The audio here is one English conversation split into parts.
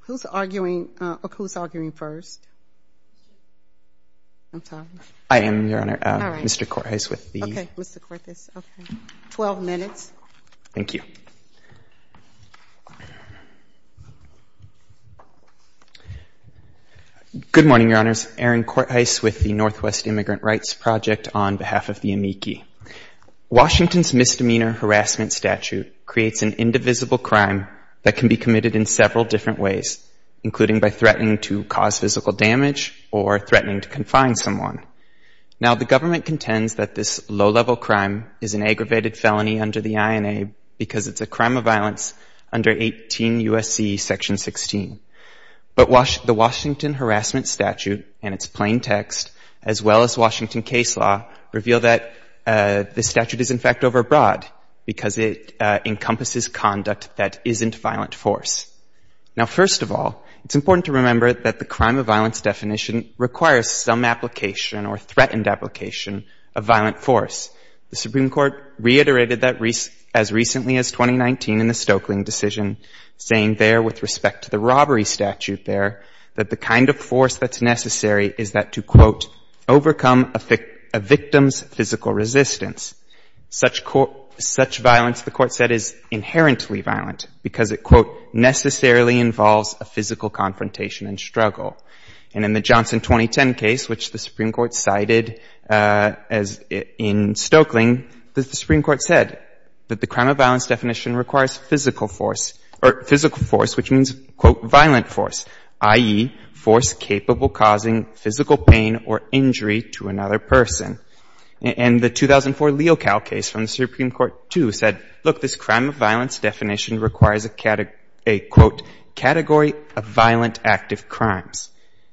Who's arguing first? I'm sorry. I am, Your Honor. Mr. Cortice with the... Okay, Mr. Cortice. Twelve minutes. Thank you. Good morning, Your Honors. Aaron Cortice with the Northwest Immigrant Rights Project on behalf of the AMICI. Washington's misdemeanor harassment statute creates an indivisible crime that can be committed in several different ways, including by threatening to cause physical damage or threatening to confine someone. Now, the government contends that this low-level crime is an aggravated felony under the INA because it's a crime of violence under 18 U.S.C. Section 16. But the Washington harassment statute and its plain text, as well as Washington case law, reveal that this statute is, in fact, overbroad because it encompasses conduct that isn't violent force. Now, first of all, it's important to remember that the crime of violence definition requires some application or threatened application of violent force. The Supreme Court reiterated that as recently as 2019 in the Stokeling decision, saying there, with respect to the robbery statute there, that the kind of force that's necessary is that to, quote, overcome a victim's physical resistance. Such violence, the Court said, is inherently violent because it, quote, necessarily involves a physical confrontation and struggle. And in the Johnson 2010 case, which the Supreme Court cited in Stokeling, the Supreme Court said that the crime of violence definition requires physical force, or physical violent force, i.e., force capable causing physical pain or injury to another person. And the 2004 Leocal case from the Supreme Court, too, said, look, this crime of violence definition requires a, quote, category of violent active crimes.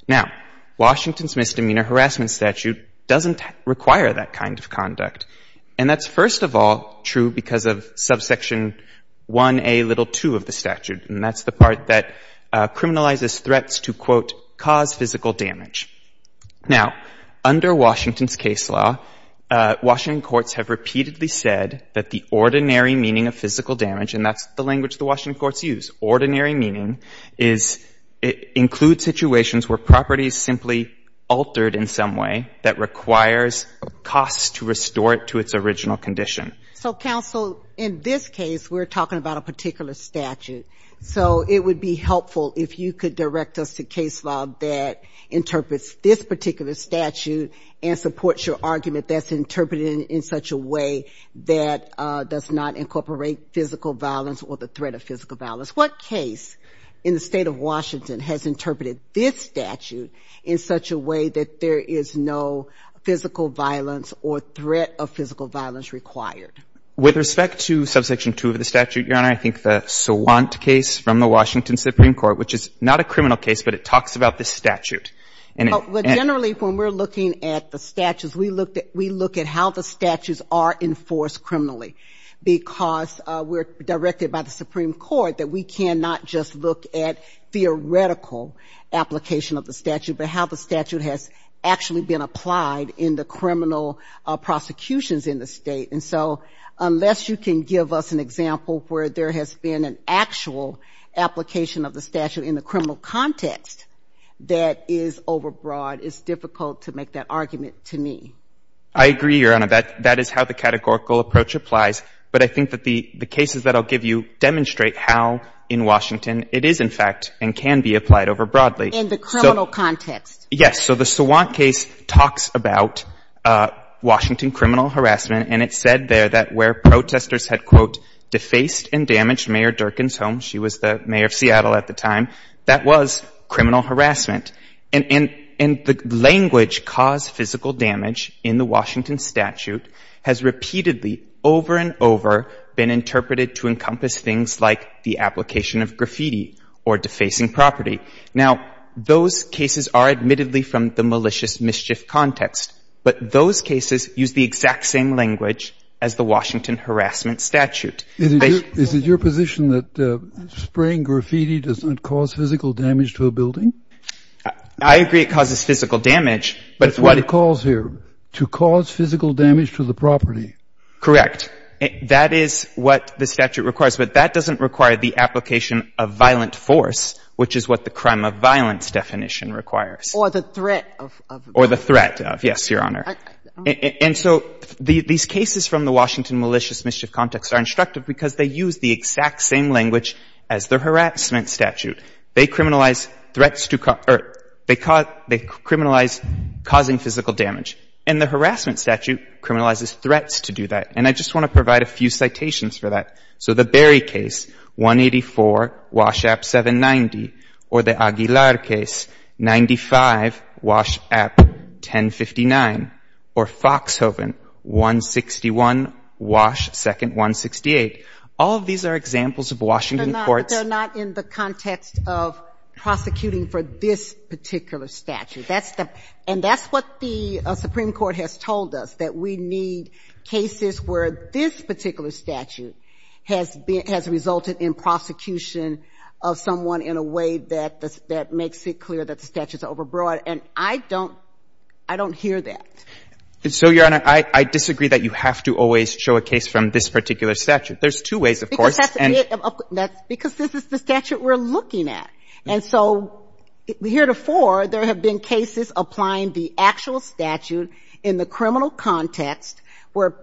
Now, Washington's misdemeanor harassment statute doesn't require that kind of conduct. And that's, first of all, true because of subsection 1A little 2 of the statute. And that's the part that criminalizes threats to, quote, cause physical damage. Now, under Washington's case law, Washington courts have repeatedly said that the ordinary meaning of physical damage, and that's the language the Washington courts use, ordinary meaning is it includes situations where property is simply altered in some way that requires a cost to restore it to its original condition. So, counsel, in this case, we're talking about a particular statute. So it would be helpful if you could direct us to case law that interprets this particular statute and supports your argument that's interpreted in such a way that does not incorporate physical violence or the threat of physical violence. What case in the state of Washington has interpreted this statute in such a way that there is no physical violence or threat of physical violence required? With respect to subsection 2 of the statute, Your Honor, I think the Swant case from the Washington Supreme Court, which is not a criminal case, but it talks about the statute. Well, generally, when we're looking at the statutes, we look at how the statutes are enforced criminally because we're directed by the Supreme Court that we cannot just look at theoretical application of the statute, but how the statute has actually been applied in the criminal prosecutions in the State. And so unless you can give us an example where there has been an actual application of the statute in the criminal context that is overbroad, it's difficult to make that argument to me. I agree, Your Honor. That is how the categorical approach applies. But I think that the cases that I'll give you demonstrate how in Washington it is, in fact, and can be applied overbroadly. In the criminal context. Yes. So the Swant case talks about Washington criminal harassment, and it said there that where protesters had, quote, defaced and damaged Mayor Durkin's home, she was the mayor of Seattle at the time, that was criminal harassment. And the language caused physical damage in the Washington statute has repeatedly, over and over, been interpreted to encompass things like the application of graffiti or defacing property. Now, those cases are admittedly from the malicious mischief context, but those cases use the exact same language as the Washington harassment statute. Is it your position that spraying graffiti does not cause physical damage to a building? I agree it causes physical damage, but what it calls here, to cause physical damage to the property. Correct. That is what the statute requires. But that doesn't require the application of violent force, which is what the crime of violence definition requires. Or the threat of. Or the threat of. Yes, Your Honor. And so these cases from the Washington malicious mischief context are instructive because they use the exact same language as the harassment statute. They criminalize threats to, or they criminalize causing physical damage. And the harassment statute criminalizes threats to do that. And I just want to provide a few citations for that. So the Berry case, 184, Wash App, 790. Or the Aguilar case, 95, Wash App, 1059. Or Foxhoven, 161, Wash, Second, 168. All of these are examples of Washington courts. But they're not in the context of prosecuting for this particular statute. That's the — and that's what the Supreme Court has told us, that we need cases where this particular statute has been — has resulted in prosecution of someone in a way that makes it clear that the statute's overbroad. And I don't — I don't hear that. So, Your Honor, I disagree that you have to always show a case from this particular statute. There's two ways, of course. Because that's a bit of a — because this is the statute we're looking at. And so heretofore, there have been cases applying the actual statute in the criminal context where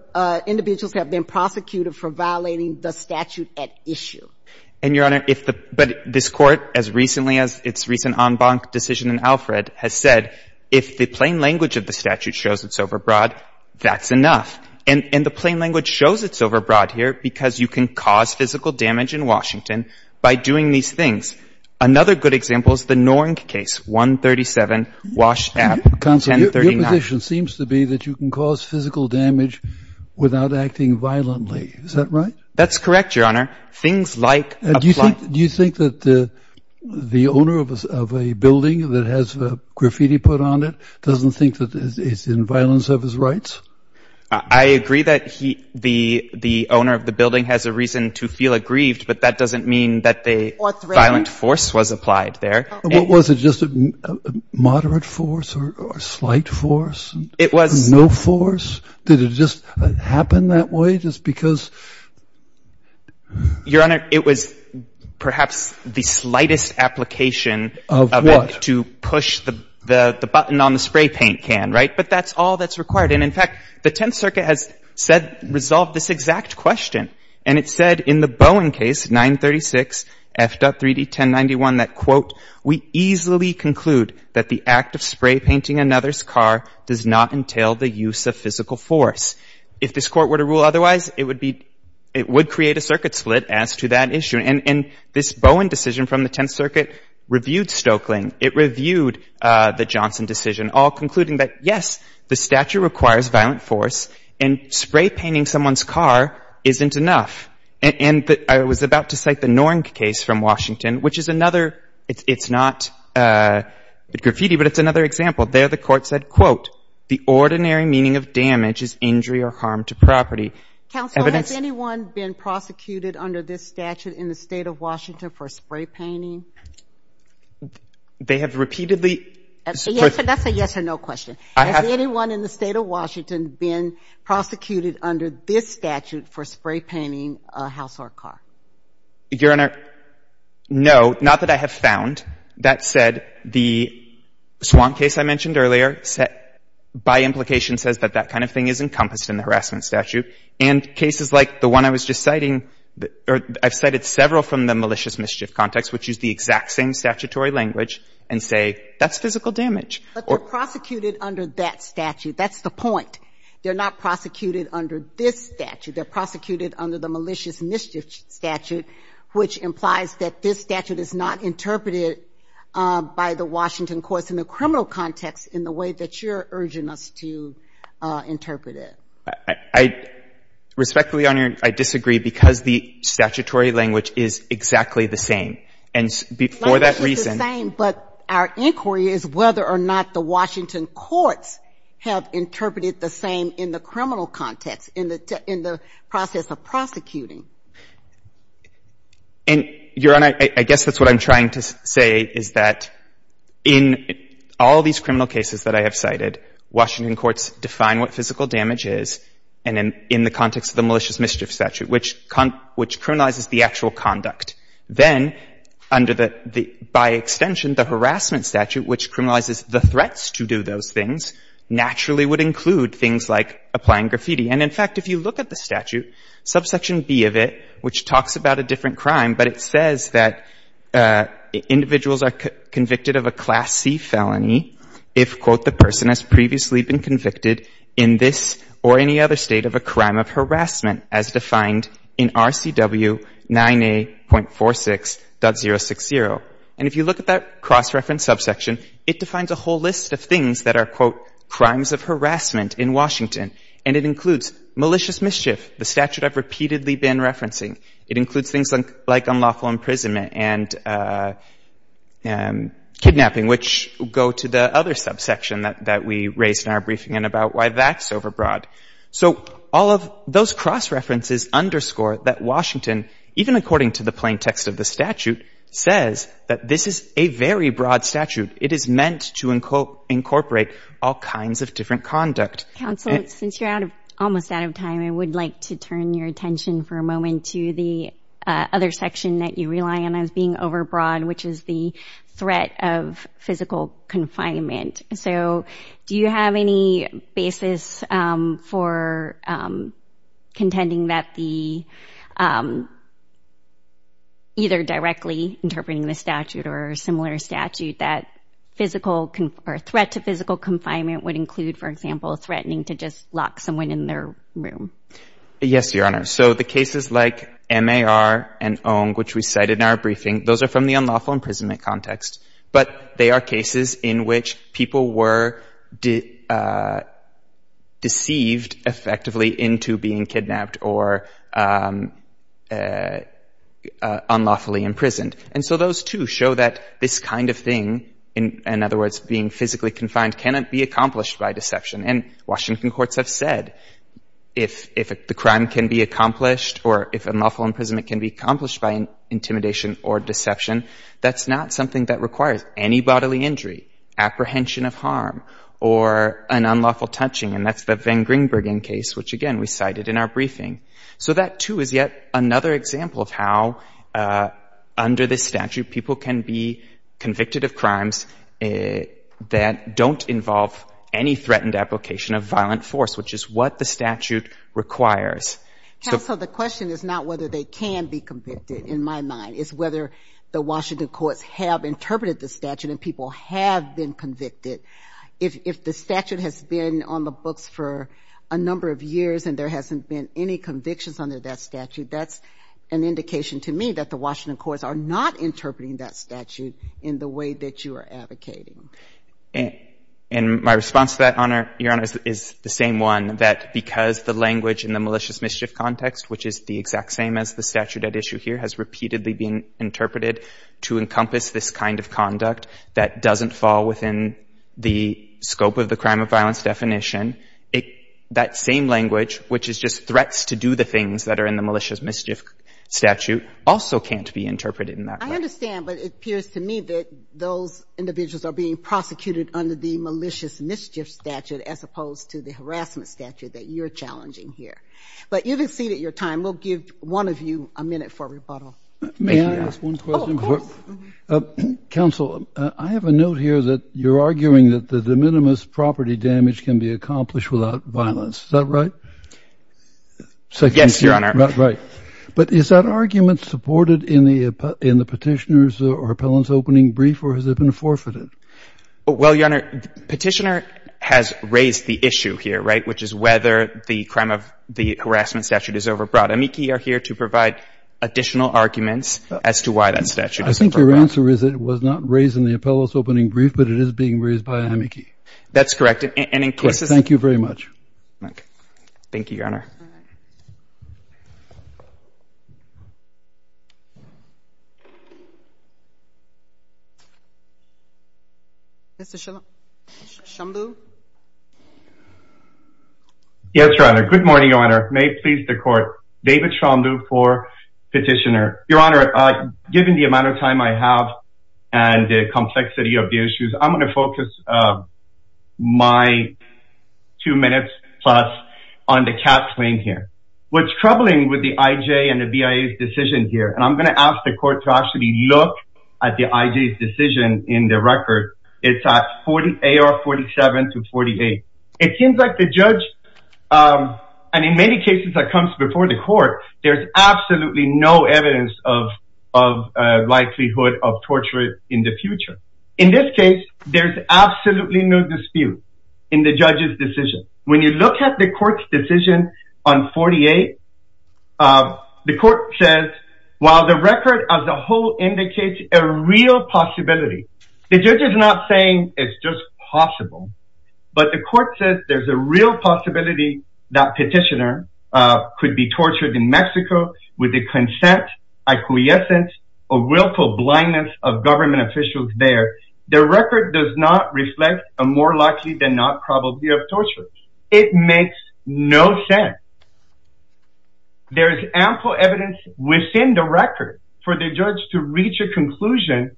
individuals have been prosecuted for violating the statute at issue. And, Your Honor, if the — but this Court, as recently as its recent en banc decision in Alfred, has said, if the plain language of the statute shows it's overbroad, that's enough. And the plain language shows it's overbroad here because you can cause physical damage in Washington by doing these things. Another good example is the Norenk case, 137, Wash App, 1039. The proposition seems to be that you can cause physical damage without acting violently. Is that right? That's correct, Your Honor. Things like — Do you think that the owner of a building that has graffiti put on it doesn't think that it's in violence of his rights? I agree that he — the owner of the building has a reason to feel aggrieved, but that doesn't mean that they — Or threatened. — violent force was applied there. Was it just a moderate force or a slight force? It was — No force? Did it just happen that way just because — Your Honor, it was perhaps the slightest application of — Of what? — to push the button on the spray paint can, right? But that's all that's required. And, in fact, the Tenth Circuit has said — resolved this exact question. And it said in the Bowen case, 936, F.3D 1091, that, quote, we easily conclude that the act of spray painting another's car does not entail the use of physical force. If this Court were to rule otherwise, it would be — it would create a circuit split as to that issue. And this Bowen decision from the Tenth Circuit reviewed Stoeckling. It reviewed the Johnson decision, all concluding that, yes, the statute requires violent force, and spray painting someone's car isn't enough. And I was about to cite the Nornk case from Washington, which is another — it's not graffiti, but it's another example. There, the Court said, quote, the ordinary meaning of damage is injury or harm to property. Counsel, has anyone been prosecuted under this statute in the State of Washington for spray painting? That's a yes or no question. I have — Has anyone in the State of Washington been prosecuted under this statute for spray painting a household car? Your Honor, no. Not that I have found. That said, the Swamp case I mentioned earlier by implication says that that kind of thing is encompassed in the harassment statute. And cases like the one I was just citing — or I've cited several from the malicious mischief context, which use the exact same statutory language, and say that's physical damage or — But they're prosecuted under that statute. That's the point. They're not prosecuted under this statute. They're prosecuted under the malicious mischief statute, which implies that this statute is not interpreted by the Washington courts in the criminal context in the way that you're urging us to interpret it. I respectfully, Your Honor, I disagree because the statutory language is exactly the same. And before that reason — Our inquiry is whether or not the Washington courts have interpreted the same in the criminal context, in the process of prosecuting. And, Your Honor, I guess that's what I'm trying to say, is that in all these criminal cases that I have cited, Washington courts define what physical damage is in the context of the malicious mischief statute, which criminalizes the actual conduct. Then, under the — by extension, the harassment statute, which criminalizes the threats to do those things, naturally would include things like applying graffiti. And, in fact, if you look at the statute, subsection B of it, which talks about a different crime, but it says that individuals are convicted of a Class C felony if, quote, the person has previously been convicted in this or any other state of a state. And if you look at that cross-reference subsection, it defines a whole list of things that are, quote, crimes of harassment in Washington. And it includes malicious mischief, the statute I've repeatedly been referencing. It includes things like unlawful imprisonment and kidnapping, which go to the other subsection that we raised in our briefing and about why that's overbroad. So all of those cross-references underscore that Washington, even according to the fine text of the statute, says that this is a very broad statute. It is meant to incorporate all kinds of different conduct. Counsel, since you're out of — almost out of time, I would like to turn your attention for a moment to the other section that you rely on as being overbroad, which is the threat of physical confinement. So do you have any basis for contending that the — either directly interpreting the statute or a similar statute that physical — or threat to physical confinement would include, for example, threatening to just lock someone in their room? Yes, Your Honor. So the cases like MAR and ONG, which we cited in our briefing, those are from the people were deceived effectively into being kidnapped or unlawfully imprisoned. And so those two show that this kind of thing, in other words, being physically confined, cannot be accomplished by deception. And Washington courts have said if the crime can be accomplished or if unlawful imprisonment can be accomplished by intimidation or deception, that's not something that requires any bodily injury, apprehension of harm, or an unlawful touching. And that's the Van Gringbergen case, which, again, we cited in our briefing. So that, too, is yet another example of how under this statute people can be convicted of crimes that don't involve any threatened application of violent force, which is what the statute requires. Counsel, the question is not whether they can be convicted, in my mind. It's whether the Washington courts have interpreted the statute and people have been convicted. If the statute has been on the books for a number of years and there hasn't been any convictions under that statute, that's an indication to me that the Washington courts are not interpreting that statute in the way that you are advocating. And my response to that, Your Honor, is the same one, that because the language in the malicious mischief context, which is the exact same as the statute at issue here, has repeatedly been interpreted to encompass this kind of conduct that doesn't fall within the scope of the crime of violence definition, that same language, which is just threats to do the things that are in the malicious mischief statute, also can't be interpreted in that way. I understand, but it appears to me that those individuals are being prosecuted under the malicious mischief statute as opposed to the harassment statute that you're challenging here. But you've exceeded your time. We'll give one of you a minute for rebuttal. May I ask one question? Oh, of course. Counsel, I have a note here that you're arguing that the de minimis property damage can be accomplished without violence. Is that right? Yes, Your Honor. Right. But is that argument supported in the petitioner's or appellant's opening brief, or has it been forfeited? Well, Your Honor, petitioner has raised the issue here, right, which is whether the crime of the harassment statute is overbrought. AMICI are here to provide additional arguments as to why that statute is overbrought. I think your answer is it was not raised in the appellant's opening brief, but it is being raised by AMICI. That's correct. And in cases — Correct. Thank you very much. Thank you, Your Honor. Mr. Shambu? Yes, Your Honor. Good morning, Your Honor. May it please the Court. David Shambu for petitioner. Your Honor, given the amount of time I have and the complexity of the issues, I'm going to focus my two minutes plus on the cap claim here. What's troubling with the IJ and the BIA's decision here, and I'm going to ask the Court to actually look at the IJ's decision in the record, it's at 48 or 47 to 48. It seems like the judge, and in many cases that comes before the Court, there's absolutely no evidence of likelihood of torture in the future. In this case, there's absolutely no dispute in the judge's decision. When you look at the Court's decision on 48, the Court says, while the record as a whole indicates a real possibility. The judge is not saying it's just possible, but the Court says there's a real possibility that petitioner could be tortured in Mexico with the consent, acquiescence, or willful blindness of government officials there. The record does not reflect a more likely than not probability of torture. It makes no sense. There's ample evidence within the record for the judge to reach a conclusion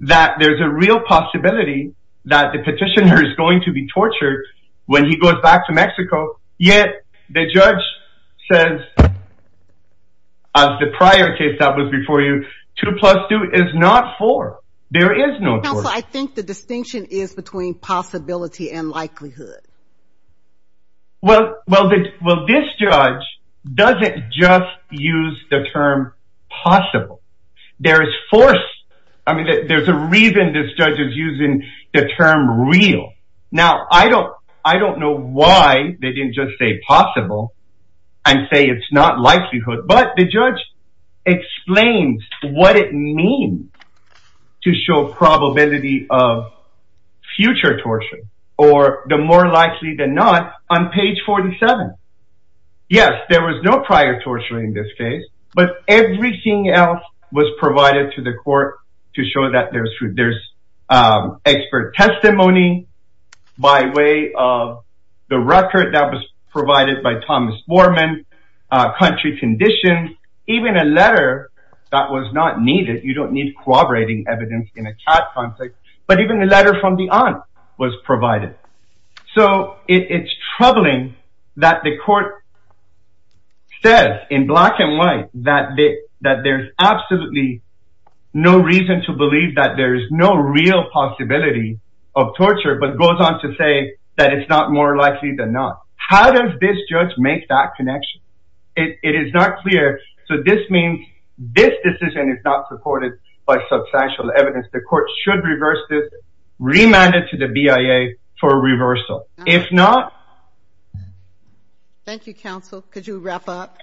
that there's a real possibility that the petitioner is going to be tortured when he goes back to Mexico, yet the judge says, as the prior case that was before you, 2 plus 2 is not 4. There is no torture. Counsel, I think the distinction is between possibility and likelihood. Well, this judge doesn't just use the term possible. There is force. I mean, there's a reason this judge is using the term real. Now, I don't know why they didn't just say possible and say it's not likelihood, but the judge explains what it means to show probability of future torture, or the more likely than not on page 47. Yes, there was no prior torture in this case, but everything else was provided to the court to show that there's expert testimony by way of the record that was provided by Thomas Foreman, country conditions, even a letter that was not needed. You don't need corroborating evidence in a CAD context, but even the letter from the aunt was provided. So it's troubling that the court says in black and white that there's absolutely no reason to believe that there's no real possibility of torture, but goes on to say that it's not more likely than not. How does this judge make that connection? It is not clear. So this means this decision is not supported by substantial evidence. The court should reverse this, remand it to the BIA for reversal. If not... Thank you, counsel. Could you wrap up?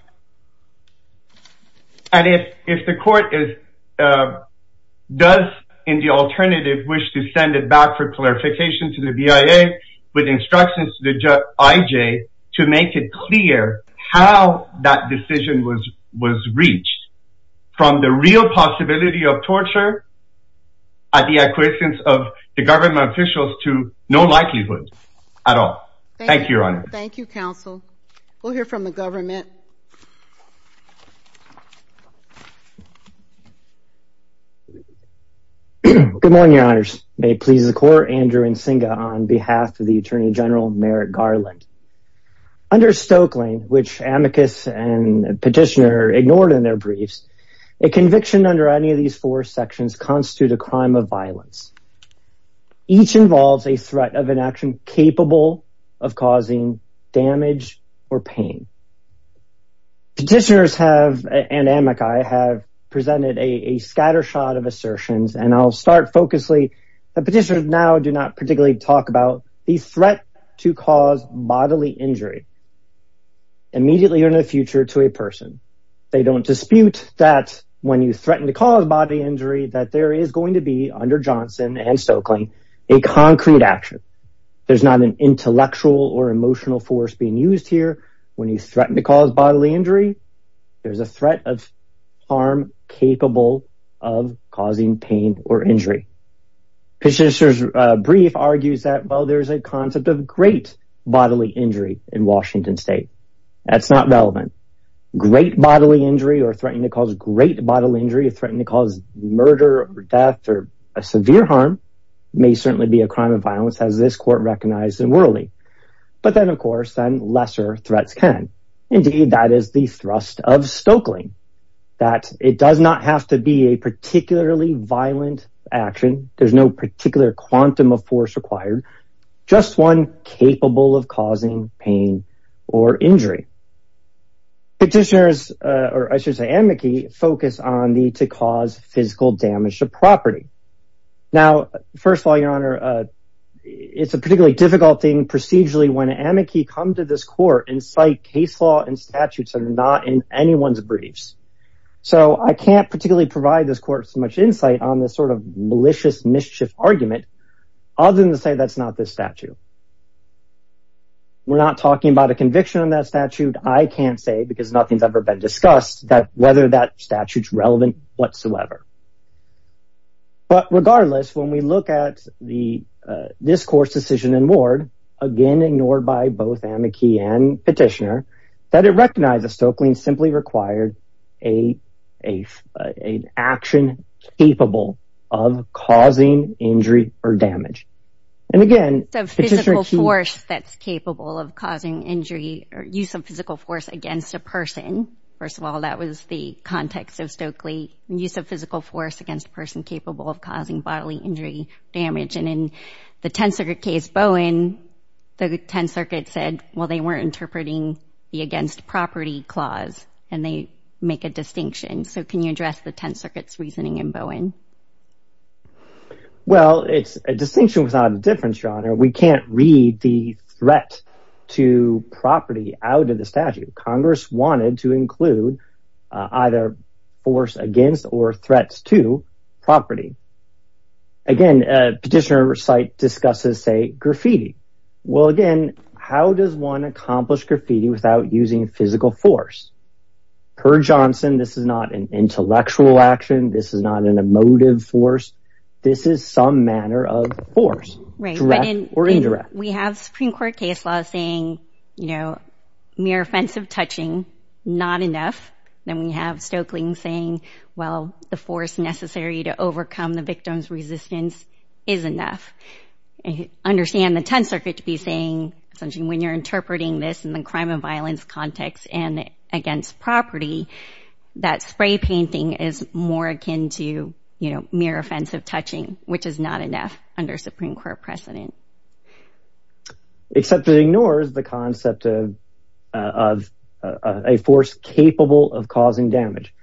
And if the court does, in the alternative, wish to send it back for clarification to the BIA with instructions to the IJ to make it clear how that decision was reached from the real possibility of torture at the acquiescence of the government officials to no likelihood at all. Thank you, your honor. Thank you, counsel. We'll hear from the government. Good morning, your honors. May it please the court, Andrew Nsinga on behalf of the Attorney General Merrick Garland. Under Stoeckling, which amicus and petitioner ignored in their briefs, a conviction under any of these four sections constitute a crime of violence. Each involves a threat of an action capable of causing damage or pain. Petitioners have, and amici, have presented a scattershot of assertions, and I'll start focussing. The petitioners now do not particularly talk about the threat to cause bodily injury immediately or in the future to a person. They don't dispute that when you threaten to cause bodily injury, that there is going to be, under Johnson and Stoeckling, a concrete action. There's not an intellectual or emotional force being used here. When you threaten to cause bodily injury, there's a threat of harm capable of causing pain or injury. Petitioner's brief argues that, well, there's a concept of great bodily injury in Washington State. That's not relevant. Great bodily injury or threatening to cause great bodily injury or threatening to cause murder or death or severe harm may certainly be a crime of violence, as this court recognized in Worley. But then, of course, then lesser threats can. Indeed, that is the thrust of Stoeckling, that it does not have to be a particularly violent action. There's no particular quantum of force required, just one capable of causing pain or injury. Petitioners, or I should say amici, focus on the to cause physical damage to property. Now, first of all, Your Honor, it's a particularly difficult thing procedurally when amici come to this court and cite case law and statutes that are not in anyone's briefs. So I can't particularly provide this court so much insight on this sort of malicious mischief argument other than to say that's not this statute. We're not talking about a conviction on that statute. I can't say, because nothing's ever been discussed, whether that statute's relevant whatsoever. But regardless, when we look at this court's decision in Ward, again ignored by both amici and petitioner, that it recognizes Stoeckling simply required an action capable of causing injury or damage. And again, Petitioner Keene... So physical force that's capable of causing injury or use of physical force against a person. First of all, that was the context of Stoeckling, use of physical force against a person capable of causing bodily injury, damage. And in the Tenth Circuit case, Bowen, the Tenth Circuit said, well, they weren't interpreting the against property clause, and they make a distinction. So can you address the Tenth Circuit's reasoning in Bowen? Well, a distinction was not a difference, Your Honor. We can't read the threat to property out of the statute. Congress wanted to include either force against or threats to property. Again, Petitioner site discusses, say, graffiti. Well, again, how does one accomplish graffiti without using physical force? Kerr-Johnson, this is not an intellectual action. This is not an emotive force. This is some manner of force, direct or indirect. We have Supreme Court case law saying mere offensive touching, not enough. Then we have Stoeckling saying, well, the force necessary to overcome the victim's resistance is enough. I understand the Tenth Circuit to be saying, when you're interpreting this in the crime and violence context and against property, that spray painting is more akin to, you know, mere offensive touching, which is not enough under Supreme Court precedent. Except it ignores the concept of a force capable of causing damage.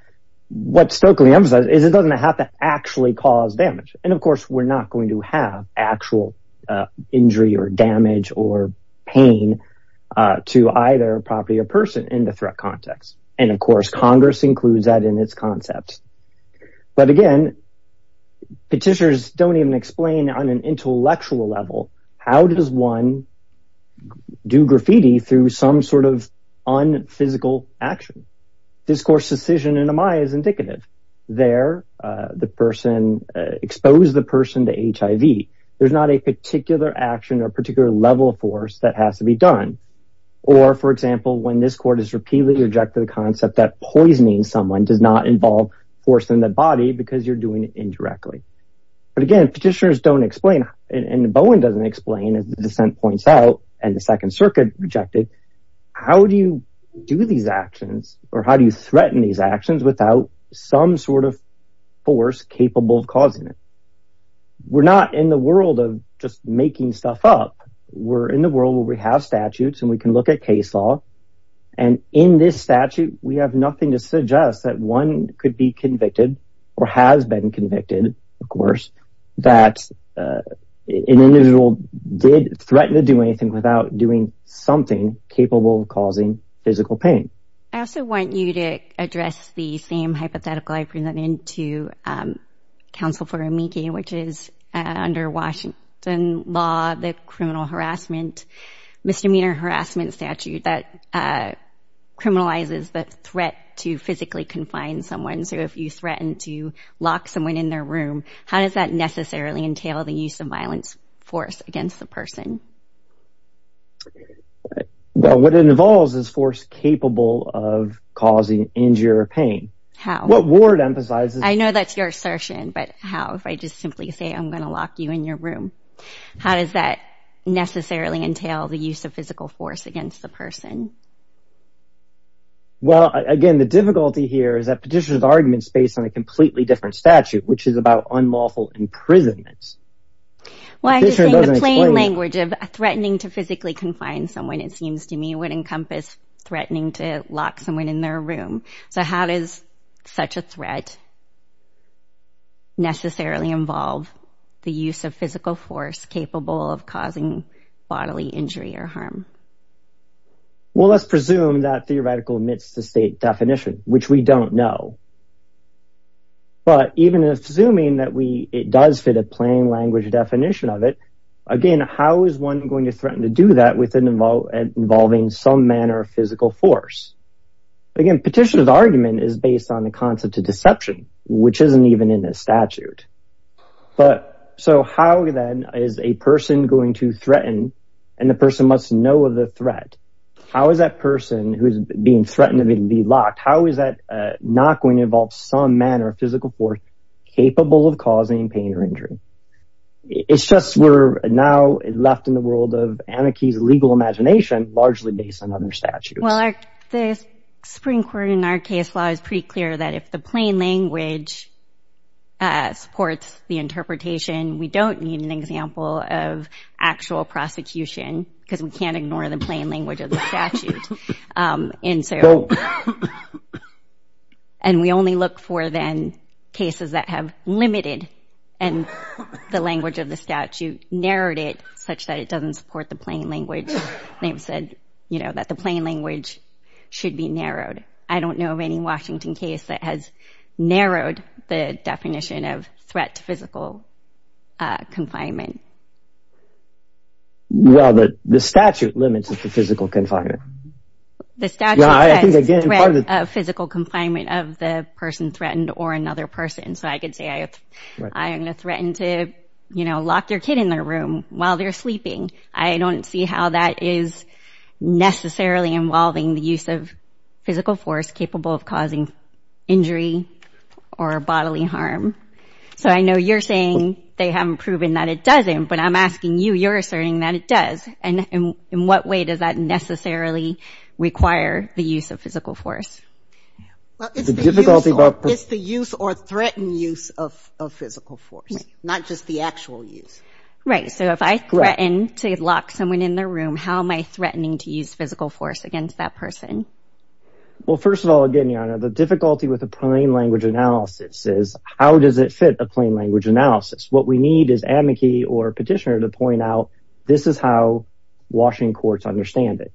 What Stoeckling emphasizes is it doesn't have to actually cause damage. And, of course, we're not going to have actual injury or damage or pain to either property or person in the threat context. And, of course, Congress includes that in its concept. But, again, petitioners don't even explain on an intellectual level, how does one do graffiti through some sort of unphysical action? This court's decision in Amaya is indicative. There, the person exposed the person to HIV. There's not a particular action or particular level of force that has to be done. Or, for example, when this court has repeatedly rejected the concept that poisoning someone does not involve force in the body because you're doing it indirectly. But, again, petitioners don't explain. And Bowen doesn't explain, as the dissent points out, and the Second Circuit rejected. How do you do these actions or how do you threaten these actions without some sort of force capable of causing it? We're not in the world of just making stuff up. We're in the world where we have statutes and we can look at case law. And in this statute, we have nothing to suggest that one could be convicted or has been convicted, of course, that an individual did threaten to do anything without doing something capable of causing physical pain. I also want you to address the same hypothetical I presented to counsel for Amiki, which is under Washington law, the criminal harassment, misdemeanor harassment statute that criminalizes the threat to physically confine someone. So if you threaten to lock someone in their room, how does that necessarily entail the use of violence force against the person? Well, what it involves is force capable of causing injury or pain. How? What Ward emphasizes. I know that's your assertion, but how? If I just simply say, I'm going to lock you in your room. How does that necessarily entail the use of physical force against the person? Well, again, the difficulty here is that Petitioner's argument is based on a completely different statute, which is about unlawful imprisonment. Petitioner doesn't explain it. Well, I just think the plain language of threatening to physically confine someone, it seems to me, would encompass threatening to lock someone in their room. So how does such a threat necessarily involve the use of physical force capable of causing bodily injury or harm? Well, let's presume that theoretical admits the state definition, which we don't know. But even assuming that it does fit a plain language definition of it, again, how is one going to threaten to do that with involving some manner of physical force? Again, Petitioner's argument is based on the concept of deception, which isn't even in the statute. So how, then, is a person going to threaten, and the person must know of the threat? How is that person who's being threatened to be locked, how is that not going to involve some manner of physical force capable of causing pain or injury? It's just we're now left in the world of anarchy's legal imagination, largely based on other statutes. Well, the Supreme Court in our case law is pretty clear that if the plain language supports the interpretation, we don't need an example of actual prosecution because we can't ignore the plain language of the statute. And we only look for, then, cases that have limited the language of the statute, narrowed it such that it doesn't support the plain language. They've said that the plain language should be narrowed. I don't know of any Washington case that has narrowed the definition of threat to physical confinement. Well, the statute limits it to physical confinement. The statute says threat of physical confinement of the person threatened or another person. So I could say I'm going to threaten to lock your kid in their room while they're sleeping. I don't see how that is necessarily involving the use of physical force capable of causing injury or bodily harm. So I know you're saying they haven't proven that it doesn't, but I'm asking you. You're asserting that it does. And in what way does that necessarily require the use of physical force? It's the use or threatened use of physical force, not just the actual use. Right. So if I threaten to lock someone in their room, how am I threatening to use physical force against that person? Well, first of all, again, Your Honor, the difficulty with the plain language analysis is how does it fit a plain language analysis? What we need is amici or petitioner to point out this is how Washington courts understand it.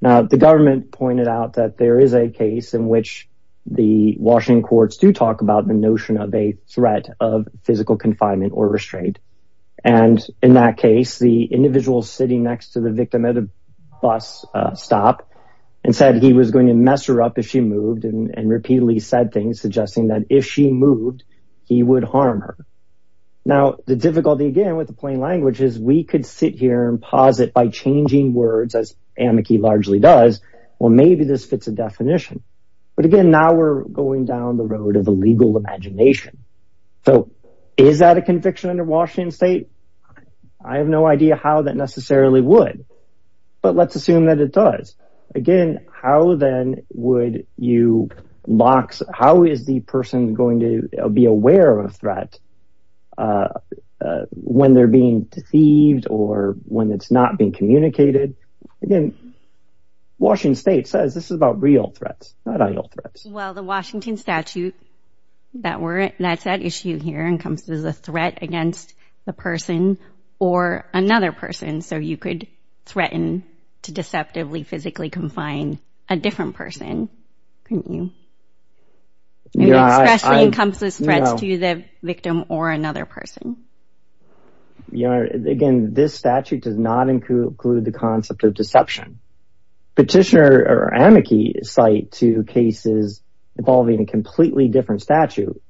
Now, the government pointed out that there is a case in which the Washington courts do talk about the notion of a threat of physical confinement or restraint. And in that case, the individual sitting next to the victim at a bus stop and said he was going to mess her up if she moved and repeatedly said things suggesting that if she moved, he would harm her. Now, the difficulty, again, with the plain language is we could sit here and pause it by changing words, as amici largely does. Well, maybe this fits a definition. But again, now we're going down the road of the legal imagination. So is that a conviction under Washington state? I have no idea how that necessarily would. But let's assume that it does. Again, how then would you box, how is the person going to be aware of a threat when they're being deceived or when it's not being communicated? Again, Washington state says this is about real threats, not idle threats. Well, the Washington statute, that's at issue here, encompasses a threat against the person or another person. So you could threaten to deceptively physically confine a different person, couldn't you? It especially encompasses threats to the victim or another person. Again, this statute does not include the concept of deception. Petitioner or amici cite two cases involving a completely different statute.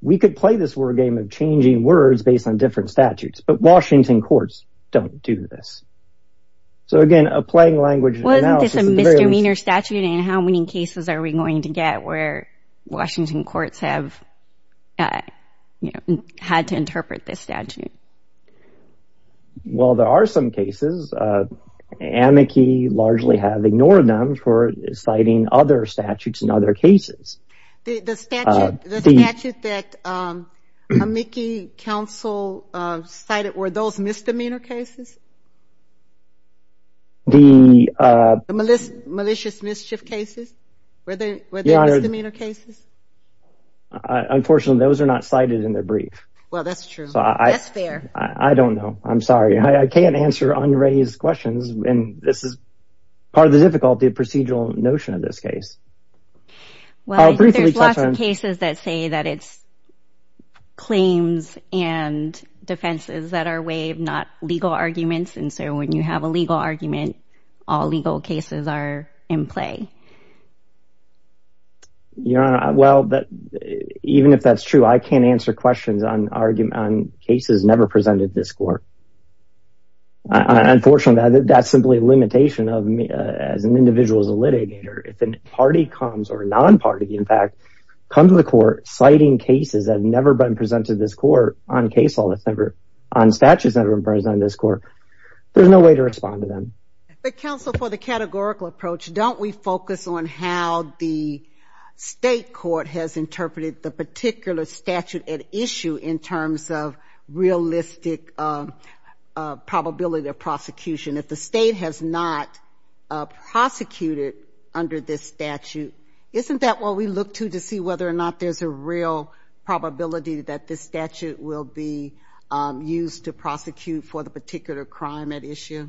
We could play this word game of changing words based on different statutes, but Washington courts don't do this. So again, a plain language analysis... Wasn't this a misdemeanor statute, and how many cases are we going to get where Washington courts have had to interpret this statute? Well, there are some cases. Amici largely have ignored them for citing other statutes in other cases. The statute that amici counsel cited, were those misdemeanor cases? The... The malicious mischief cases? Were there misdemeanor cases? Unfortunately, those are not cited in the brief. Well, that's true. That's fair. I don't know. I'm sorry. I can't answer unraised questions, and this is part of the difficulty of procedural notion in this case. Well, I think there's lots of cases that say that it's claims and defenses that are waived, not legal arguments, and so when you have a legal argument, all legal cases are in play. Your Honor, well, even if that's true, I can't answer questions on cases never presented at this court. Unfortunately, that's simply a limitation of me as an individual as a litigator. If a party comes, or a non-party, in fact, comes to the court citing cases that have never been presented at this court on case law that's never... on statutes that have never been presented at this court, there's no way to respond to them. But, Counsel, for the categorical approach, don't we focus on how the state court has interpreted the particular statute at issue in terms of realistic probability of prosecution? If the state has not prosecuted under this statute, isn't that what we look to to see whether or not there's a real probability that this statute will be used to prosecute for the particular crime at issue?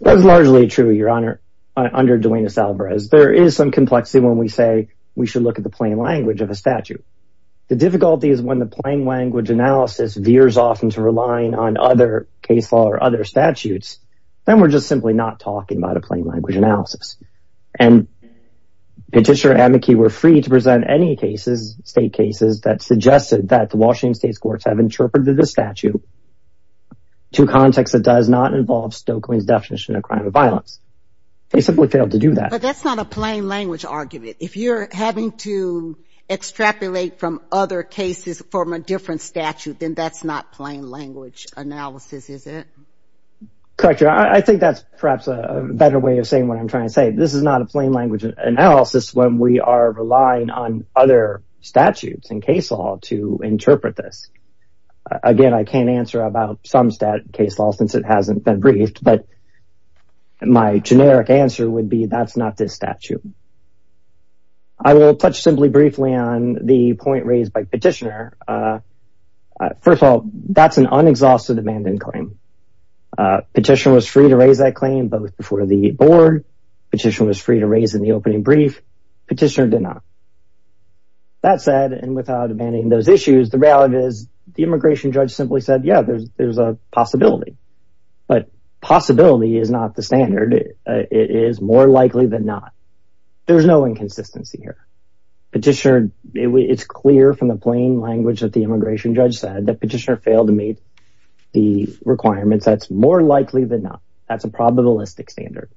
That is largely true, Your Honor, under Duenas-Alvarez. There is some complexity when we say we should look at the plain language of a statute. The difficulty is when the plain language analysis veers off into relying on other case law or other statutes, then we're just simply not talking about a plain language analysis. And Petitioner and Amici were free to present any cases, state cases, that suggested that the Washington State's courts have interpreted the statute to context that does not involve Stokelyne's definition of a crime of violence. They simply failed to do that. But that's not a plain language argument. If you're having to extrapolate from other cases from a different statute, then that's not plain language analysis, is it? Correct, Your Honor. I think that's perhaps a better way of saying what I'm trying to say. This is not a plain language analysis when we are relying on other statutes and case law to interpret this. Again, I can't answer about some case law since it hasn't been briefed, but my generic answer would be that's not this statute. I will touch simply briefly on the point raised by Petitioner. First of all, that's an unexhausted abandon claim. Petitioner was free to raise that claim both before the board. Petitioner was free to raise in the opening brief. Petitioner did not. That said, and without abandoning those issues, the reality is the immigration judge simply said, yeah, there's a possibility. But possibility is not the standard. It is more likely than not. There's no inconsistency here. Petitioner, it's clear from the plain language that the immigration judge said that Petitioner failed to meet the requirements. That's more likely than not. That's a probabilistic standard.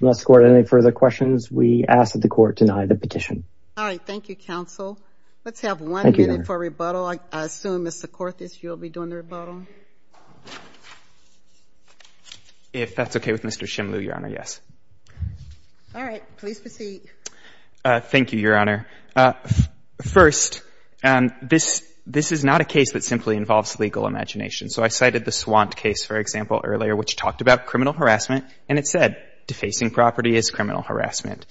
Unless, Court, any further questions, we ask that the Court deny the petition. All right. Thank you, Counsel. Let's have one minute for rebuttal. I assume, Mr. Korthes, you'll be doing the rebuttal. If that's okay with Mr. Shimloo, Your Honor, yes. All right. Please proceed. Thank you, Your Honor. First, this is not a case that simply involves legal imagination. So I cited the Swant case, for example, earlier, which talked about criminal harassment. And it said, defacing property is criminal harassment.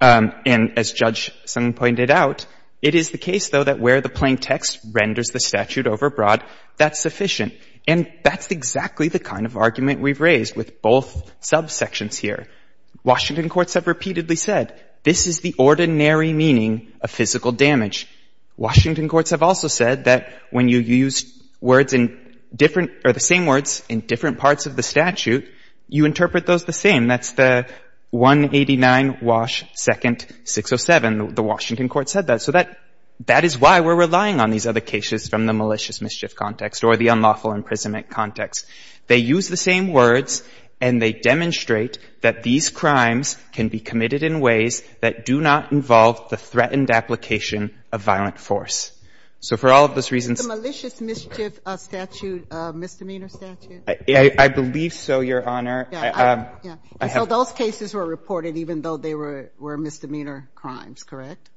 And as Judge Sun pointed out, it is the case, though, that where the plain text renders the statute overbroad, that's sufficient. And that's exactly the kind of argument we've raised with both subsections here. Washington courts have repeatedly said, this is the ordinary meaning of physical damage. Washington courts have also said that when you use words in different or the same words in different parts of the statute, you interpret those the same. That's the 189 Wash 2nd, 607. The Washington court said that. So that is why we're relying on these other cases from the malicious mischief context or the unlawful imprisonment context. They use the same words, and they demonstrate that these crimes can be committed in ways that do not involve the threatened application of violent force. So for all of those reasons — Misdemeanor statute? I believe so, Your Honor. So those cases were reported even though they were misdemeanor crimes, correct?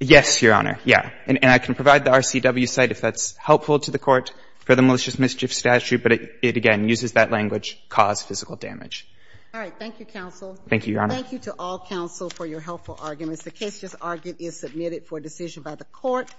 Yes, Your Honor. Yeah. And I can provide the RCW site if that's helpful to the court for the malicious mischief statute. But it, again, uses that language, cause physical damage. All right. Thank you, counsel. Thank you, Your Honor. Thank you to all counsel for your helpful arguments. The case just argued is submitted for decision by the court.